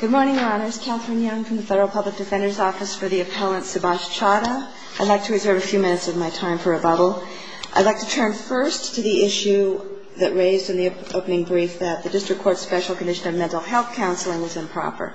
Good morning, Your Honors. Katherine Young from the Federal Public Defender's Office for the Appellant Subhash Chadha. I'd like to reserve a few minutes of my time for rebuttal. I'd like to turn first to the issue that raised in the opening brief that the District Court's special condition on mental health counseling was improper.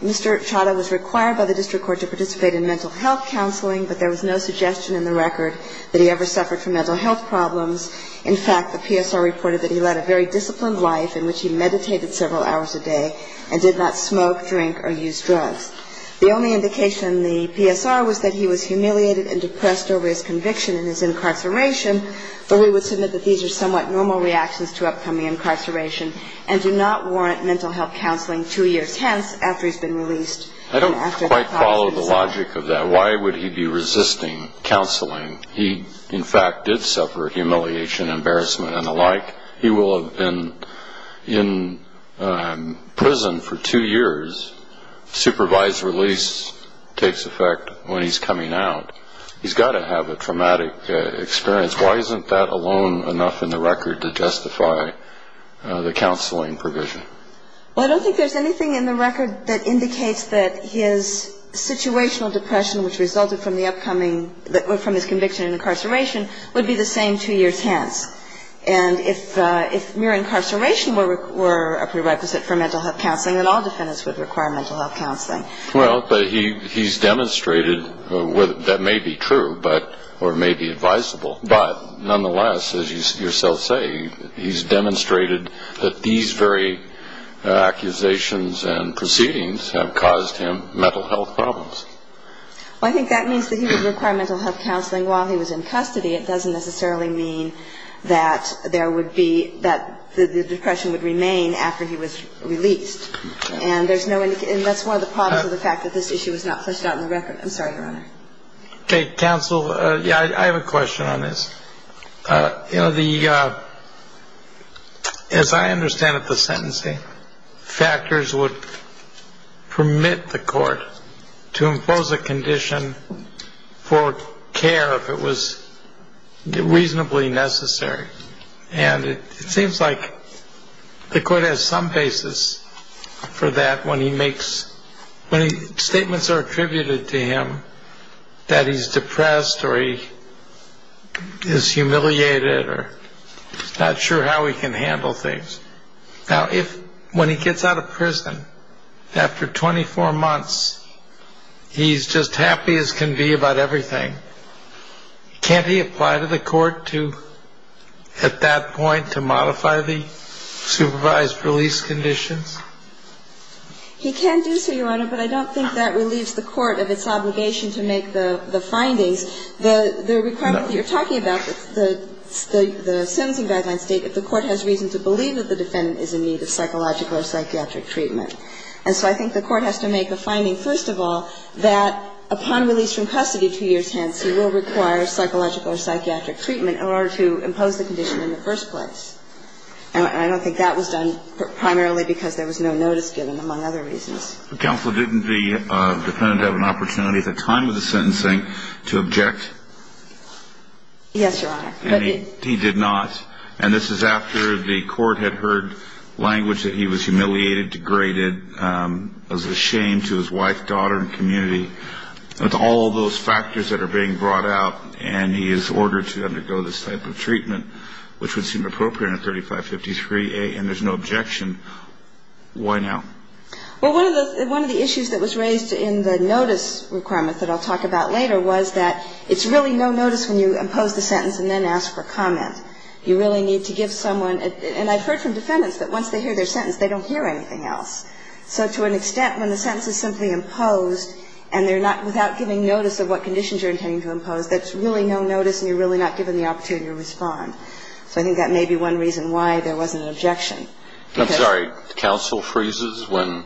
Mr. Chadha was required by the District Court to participate in mental health counseling, but there was no suggestion in the record that he ever suffered from mental health problems. In fact, the PSR reported that he led a very disciplined life in which he meditated several hours a day, and did not smoke, drink, or use drugs. The only indication in the PSR was that he was humiliated and depressed over his conviction in his incarceration, but we would submit that these are somewhat normal reactions to upcoming incarceration, and do not warrant mental health counseling two years hence after he's been released. I don't quite follow the logic of that. Why would he be resisting counseling? He, in fact, did suffer humiliation, embarrassment, and the like. He will have been in prison for two years. Supervised release takes effect when he's coming out. He's got to have a traumatic experience. Why isn't that alone enough in the record to justify the counseling provision? Well, I don't think there's anything in the record that indicates that his situational depression, which resulted from the upcoming – And if mere incarceration were a prerequisite for mental health counseling, then all defendants would require mental health counseling. Well, but he's demonstrated – that may be true, or may be advisable – but nonetheless, as you yourself say, he's demonstrated that these very accusations and proceedings have caused him mental health problems. Well, I think that means that he would require mental health counseling while he was in custody. It doesn't necessarily mean that there would be – that the depression would remain after he was released. And there's no – and that's one of the problems with the fact that this issue was not fleshed out in the record. I'm sorry, Your Honor. Okay. Counsel, yeah, I have a question on this. You know, the – as I understand it, the sentencing factors would permit the court to impose a condition for care if it was reasonably necessary. And it seems like the court has some basis for that when he makes – the statements are attributed to him that he's depressed or he is humiliated or he's not sure how he can handle things. Now, if – when he gets out of prison, after 24 months, he's just happy as can be about everything. Can't he apply to the court to – at that point, to modify the supervised release conditions? He can do so, Your Honor, but I don't think that relieves the court of its obligation to make the findings. The requirement that you're talking about, the sentencing guidelines state that the court has reason to believe that the defendant is in need of psychological or psychiatric treatment. And so I think the court has to make a finding, first of all, that upon release from custody two years hence, he will require psychological or psychiatric treatment in order to impose the condition in the first place. And I don't think that was done primarily because there was no notice given, among other reasons. Counsel, didn't the defendant have an opportunity at the time of the sentencing to object? Yes, Your Honor. And he did not. And this is after the court had heard language that he was humiliated, degraded, was ashamed to his wife, daughter, and community. With all those factors that are being brought out, and he is ordered to undergo this type of treatment, which would seem appropriate in a 3553A, and there's no objection, why now? Well, one of the issues that was raised in the notice requirement that I'll talk about later was that it's really no notice when you impose the sentence and then ask for comment. You really need to give someone, and I've heard from defendants that once they hear their sentence, they don't hear anything else. So to an extent, when the sentence is simply imposed and they're not, without giving notice of what conditions you're intending to impose, that's really no notice and you're really not given the opportunity to respond. So I think that may be one reason why there wasn't an objection. I'm sorry. Counsel freezes when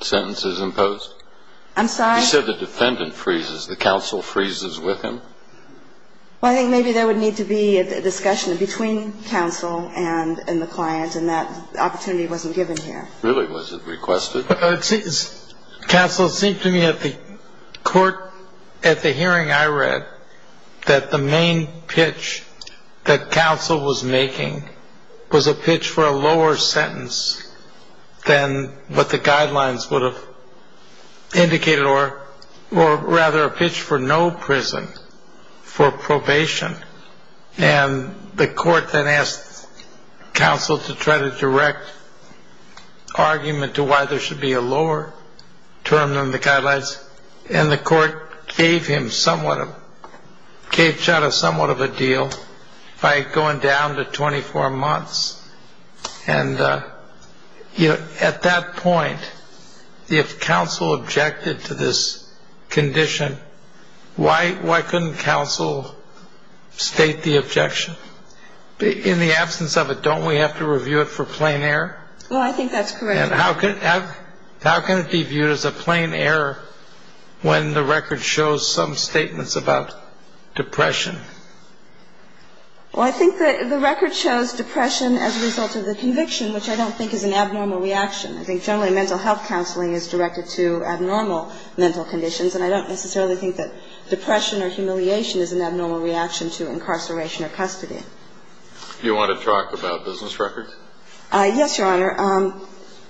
sentence is imposed? I'm sorry? You said the defendant freezes. The counsel freezes with him? Well, I think maybe there would need to be a discussion between counsel and the client, and that opportunity wasn't given here. Really? Was it requested? Counsel, it seemed to me at the hearing I read that the main pitch that counsel was making was a pitch for a lower sentence than what the guidelines would have indicated, or rather a pitch for no prison, for probation. And the court then asked counsel to try to direct argument to why there should be a lower term than the guidelines, and the court gave him somewhat of a deal by going down to 24 months. And at that point, if counsel objected to this condition, why couldn't counsel state the objection? In the absence of it, don't we have to review it for plain error? Well, I think that's correct. And how can it be viewed as a plain error when the record shows some statements about depression? Well, I think that the record shows depression as a result of the conviction, which I don't think is an abnormal reaction. I think generally mental health counseling is directed to abnormal mental conditions, and I don't necessarily think that depression or humiliation is an abnormal reaction to incarceration or custody. Do you want to talk about business records? Yes, Your Honor.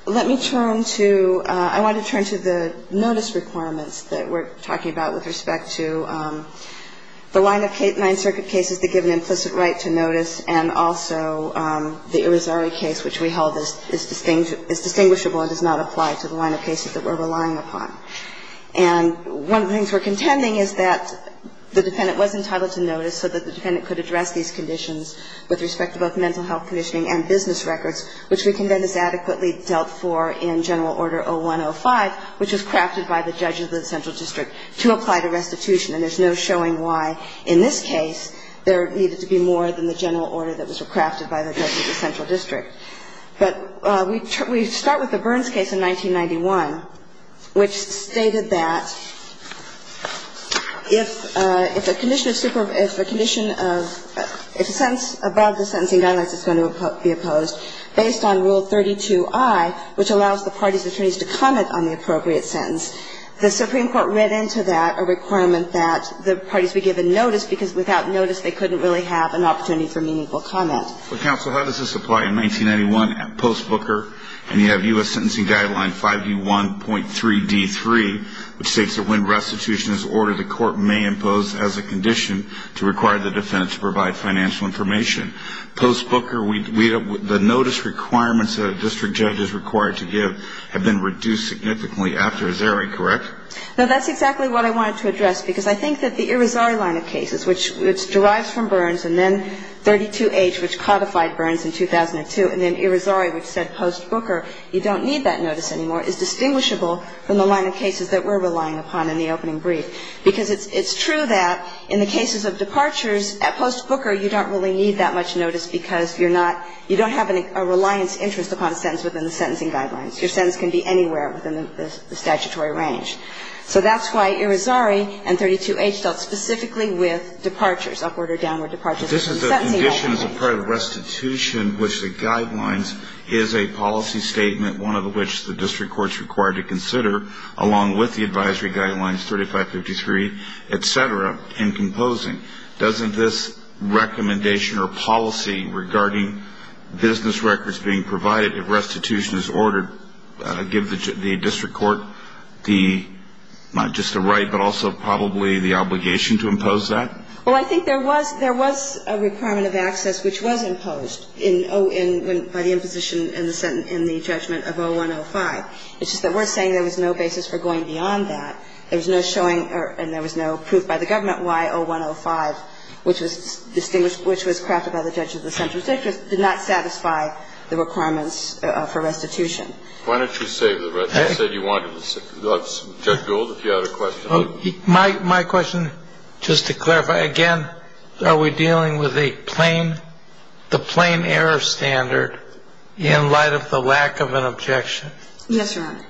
Let me turn to the notice requirements that we're talking about with respect to the line of cases that we're relying upon. And one of the things we're contending is that the defendant was entitled to notice so that the defendant could address these conditions with respect to both mental health conditioning and business records, which we condemn as adequately dealt for in General Order 0105, which was crafted by the judge of the central district to apply to restitution. And there's no showing why in this case there needed to be more than the general order that was crafted by the judge of the central district. But we start with the Burns case in 1991, which stated that if a condition of super – if a condition of – if a sentence above the sentencing guidelines is going to be opposed, based on Rule 32i, which allows the party's attorneys to comment on the appropriate The Supreme Court read into that a requirement that the parties be given notice because without notice they couldn't really have an opportunity for meaningful comment. Well, counsel, how does this apply in 1991 post-Booker? And you have U.S. Sentencing Guideline 5U1.3D3, which states that when restitution is ordered, the court may impose as a condition to require the defendant to provide financial information. Post-Booker, the notice requirements that a district judge is required to give have been reduced significantly after Zeri, correct? No, that's exactly what I wanted to address, because I think that the Irizarry line of cases, which derives from Burns, and then 32H, which codified Burns in 2002, and then Irizarry, which said post-Booker you don't need that notice anymore, is distinguishable from the line of cases that we're relying upon in the opening brief. Because it's true that in the cases of departures, at post-Booker, you don't really need that much notice because you're not – you don't have a reliance interest upon a sentence within the sentencing guidelines. Your sentence can be anywhere within the statutory range. So that's why Irizarry and 32H dealt specifically with departures, upward or downward departures from sentencing guidelines. This is a condition as a part of restitution which the guidelines is a policy statement, one of which the district court is required to consider, along with the advisory guidelines 3553, et cetera, in composing. Doesn't this recommendation or policy regarding business records being provided if restitution is ordered give the district court the – not just the right but also probably the obligation to impose that? Well, I think there was – there was a requirement of access which was imposed in – by the imposition in the judgment of 0105. It's just that we're saying there was no basis for going beyond that. There was no showing – and there was no proof by the government why 0105, which was distinguished – which was crafted by the judge of the central district did not satisfy the requirements for restitution. Why don't you save the rest? You said you wanted to save – Judge Gould, if you had a question. My question, just to clarify, again, are we dealing with a plain – the plain error standard in light of the lack of an objection? Yes, Your Honor.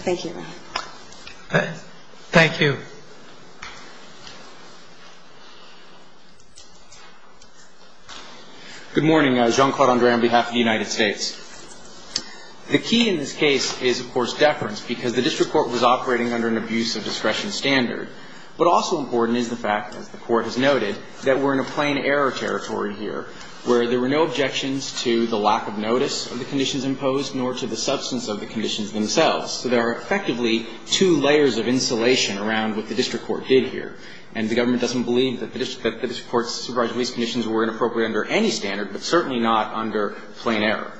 Thank you, Your Honor. Thank you. Good morning. Jean-Claude Andre on behalf of the United States. The key in this case is, of course, deference because the district court was operating under an abuse of discretion standard. But also important is the fact, as the Court has noted, that we're in a plain error territory here where there were no objections to the lack of notice of the conditions imposed nor to the substance of the conditions So there are effectively two layers of insulation around what the district court did here. And the government doesn't believe that the district court's supervised release conditions were inappropriate under any standard, but certainly not under plain error.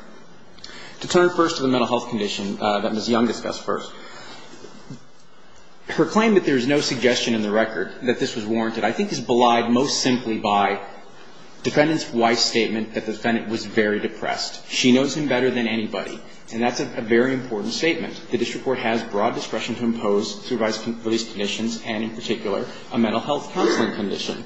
To turn first to the mental health condition that Ms. Young discussed first. Her claim that there is no suggestion in the record that this was warranted, I think, is belied most simply by defendant's wife's statement that the defendant was very depressed. She knows him better than anybody, and that's a very important statement. The district court has broad discretion to impose supervised release conditions and, in particular, a mental health counseling condition.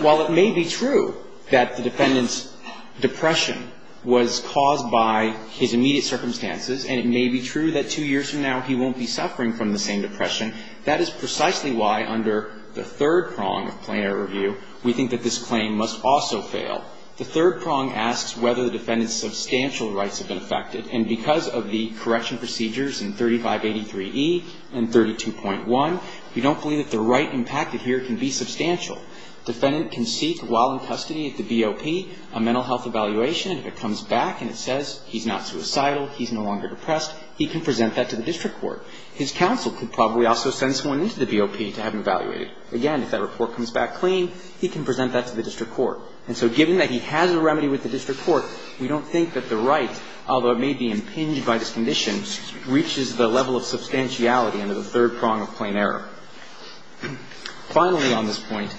While it may be true that the defendant's depression was caused by his immediate circumstances, and it may be true that two years from now he won't be suffering from the same depression, that is precisely why, under the third prong of plain error review, we think that this claim must also fail. The third prong asks whether the defendant's substantial rights have been affected, and because of the correction procedures in 3583E and 32.1, we don't believe that the right impacted here can be substantial. Defendant can seek, while in custody at the BOP, a mental health evaluation, and if it comes back and it says he's not suicidal, he's no longer depressed, he can present that to the district court. His counsel could probably also send someone into the BOP to have him evaluated. Again, if that report comes back clean, he can present that to the district court. And so, given that he has a remedy with the district court, we don't think that the right, although it may be impinged by this condition, reaches the level of substantiality under the third prong of plain error. Finally, on this point,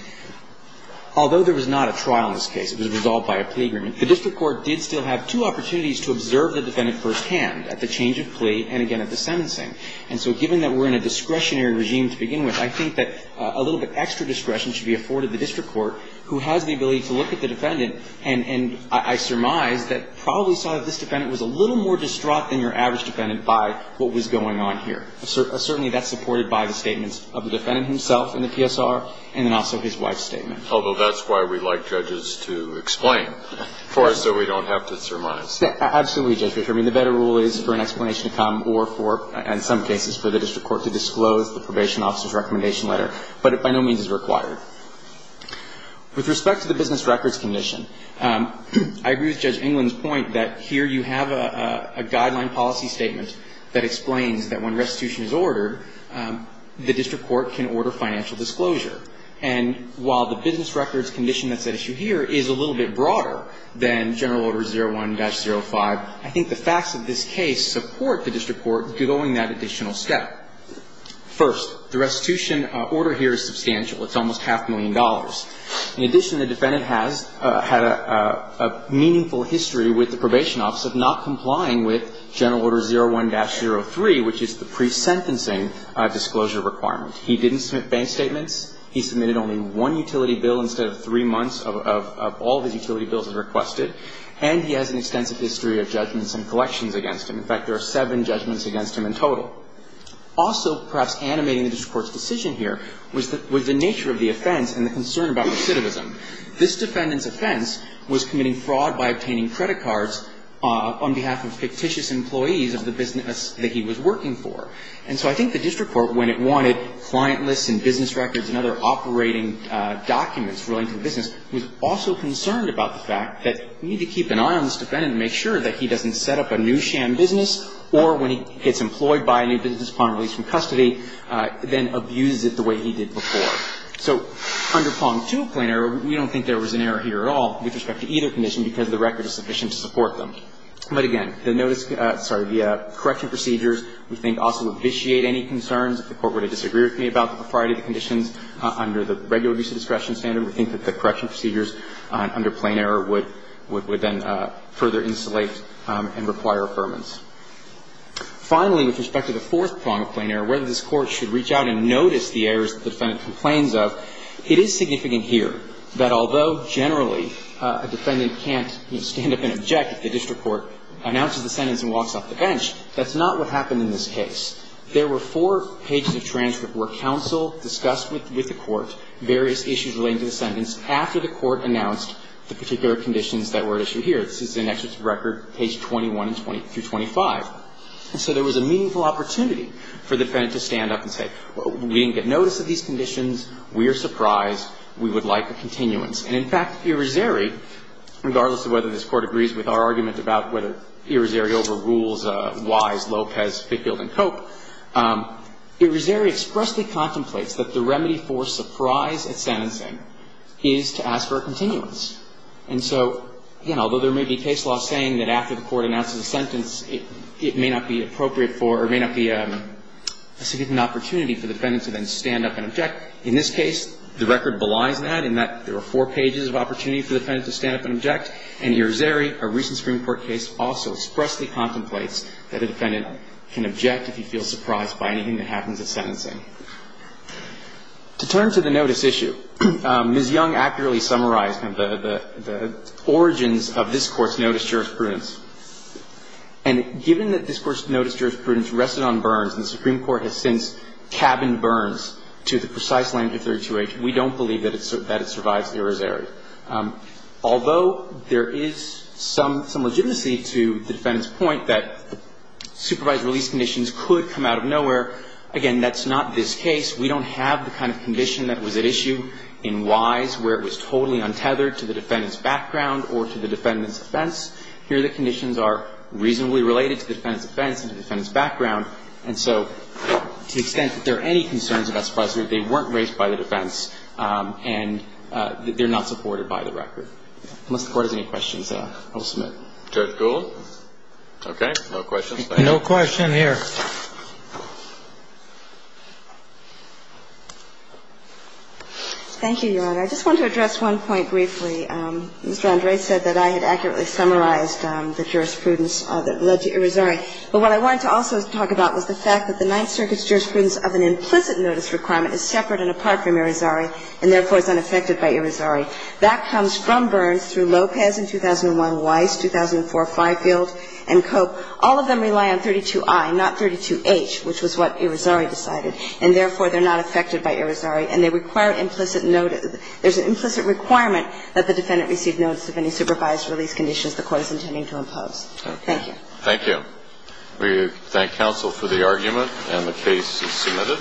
although there was not a trial in this case, it was resolved by a plea agreement, the district court did still have two opportunities to observe the defendant firsthand at the change of plea and, again, at the sentencing. And so, given that we're in a discretionary regime to begin with, I think that a little bit extra discretion should be afforded the district court, who has the ability to look at the defendant and I surmise that probably saw that this defendant was a little more distraught than your average defendant by what was going on here. Certainly, that's supported by the statements of the defendant himself in the PSR and then also his wife's statement. Although that's why we like judges to explain for us so we don't have to surmise. Absolutely, Judge Richard. I mean, the better rule is for an explanation to come or for, in some cases, for the district court to disclose the probation officer's recommendation letter, but it by no means is required. With respect to the business records condition, I agree with Judge England's point that here you have a guideline policy statement that explains that when restitution is ordered, the district court can order financial disclosure. And while the business records condition that's at issue here is a little bit broader than General Order 01-05, I think the facts of this case support the district court going that additional step. First, the restitution order here is substantial. It's almost half a million dollars. In addition, the defendant has had a meaningful history with the probation officer of not complying with General Order 01-03, which is the pre-sentencing disclosure requirement. He didn't submit bank statements. He submitted only one utility bill instead of three months of all of his utility bills as requested, and he has an extensive history of judgments and collections against him. In fact, there are seven judgments against him in total. Also, perhaps animating the district court's decision here was the nature of the offense and the concern about recidivism. This defendant's offense was committing fraud by obtaining credit cards on behalf of fictitious employees of the business that he was working for. And so I think the district court, when it wanted client lists and business records and other operating documents relating to the business, was also concerned about the fact that you need to keep an eye on this defendant to make sure that he gets employed by a new business upon release from custody, then abuses it the way he did before. So under Pong 2, plain error, we don't think there was an error here at all with respect to either condition because the record is sufficient to support them. But again, the correction procedures, we think, also vitiate any concerns. If the Court were to disagree with me about the propriety of the conditions under the regular abuse of discretion standard, we think that the correction procedures under plain error would then further insulate and require affirmance. Finally, with respect to the fourth prong of plain error, whether this Court should reach out and notice the errors that the defendant complains of, it is significant here that although generally a defendant can't stand up and object if the district court announces the sentence and walks off the bench, that's not what happened in this case. There were four pages of transcript where counsel discussed with the court various issues relating to the sentence after the court announced the particular conditions that were at issue here. This is in Excerpts of Record, page 21 through 25. And so there was a meaningful opportunity for the defendant to stand up and say, we didn't get notice of these conditions, we are surprised, we would like a continuance. And in fact, Irizarry, regardless of whether this Court agrees with our argument about whether Irizarry overrules Wise, Lopez, Fitgild, and Cope, Irizarry expressly contemplates that the remedy for surprise at sentencing is to ask for a continuance. And so, again, although there may be case law saying that after the court announces a sentence, it may not be appropriate for or may not be a significant opportunity for the defendant to then stand up and object, in this case, the record belies that, in that there were four pages of opportunity for the defendant to stand up and object, and Irizarry, a recent Supreme Court case, also expressly contemplates that a defendant can object if he feels surprised by anything that happens at sentencing. To turn to the notice issue, Ms. Young accurately summarized the origins of this Court's notice of jurisprudence. And given that this Court's notice of jurisprudence rested on Burns, and the Supreme Court has since cabined Burns to the precise language of 32H, we don't believe that it survives the Irizarry. Although there is some legitimacy to the defendant's point that supervised release conditions could come out of nowhere, again, that's not this case. We don't have the kind of condition that was at issue in Wise where it was totally untethered to the defendant's background or to the defendant's offense. Here the conditions are reasonably related to the defendant's offense and to the defendant's background. And so, to the extent that there are any concerns about supervisory, they weren't raised by the defense, and they're not supported by the record. Unless the Court has any questions, I will submit. Judge Gould? Okay. No questions? No question here. Thank you, Your Honor. I just want to address one point briefly. Mr. Andre said that I had accurately summarized the jurisprudence that led to Irizarry. But what I wanted to also talk about was the fact that the Ninth Circuit's jurisprudence of an implicit notice requirement is separate and apart from Irizarry and, therefore, is unaffected by Irizarry. That comes from Burns through Lopez in 2001, Wise, 2004, Fifield, and Cope. All of them rely on 32i, not 32h, which was what Irizarry decided. And, therefore, they're not affected by Irizarry, and they require implicit notice. There's an implicit requirement that the defendant receive notice of any supervised release conditions the Court is intending to impose. Thank you. Thank you. We thank counsel for the argument, and the case is submitted.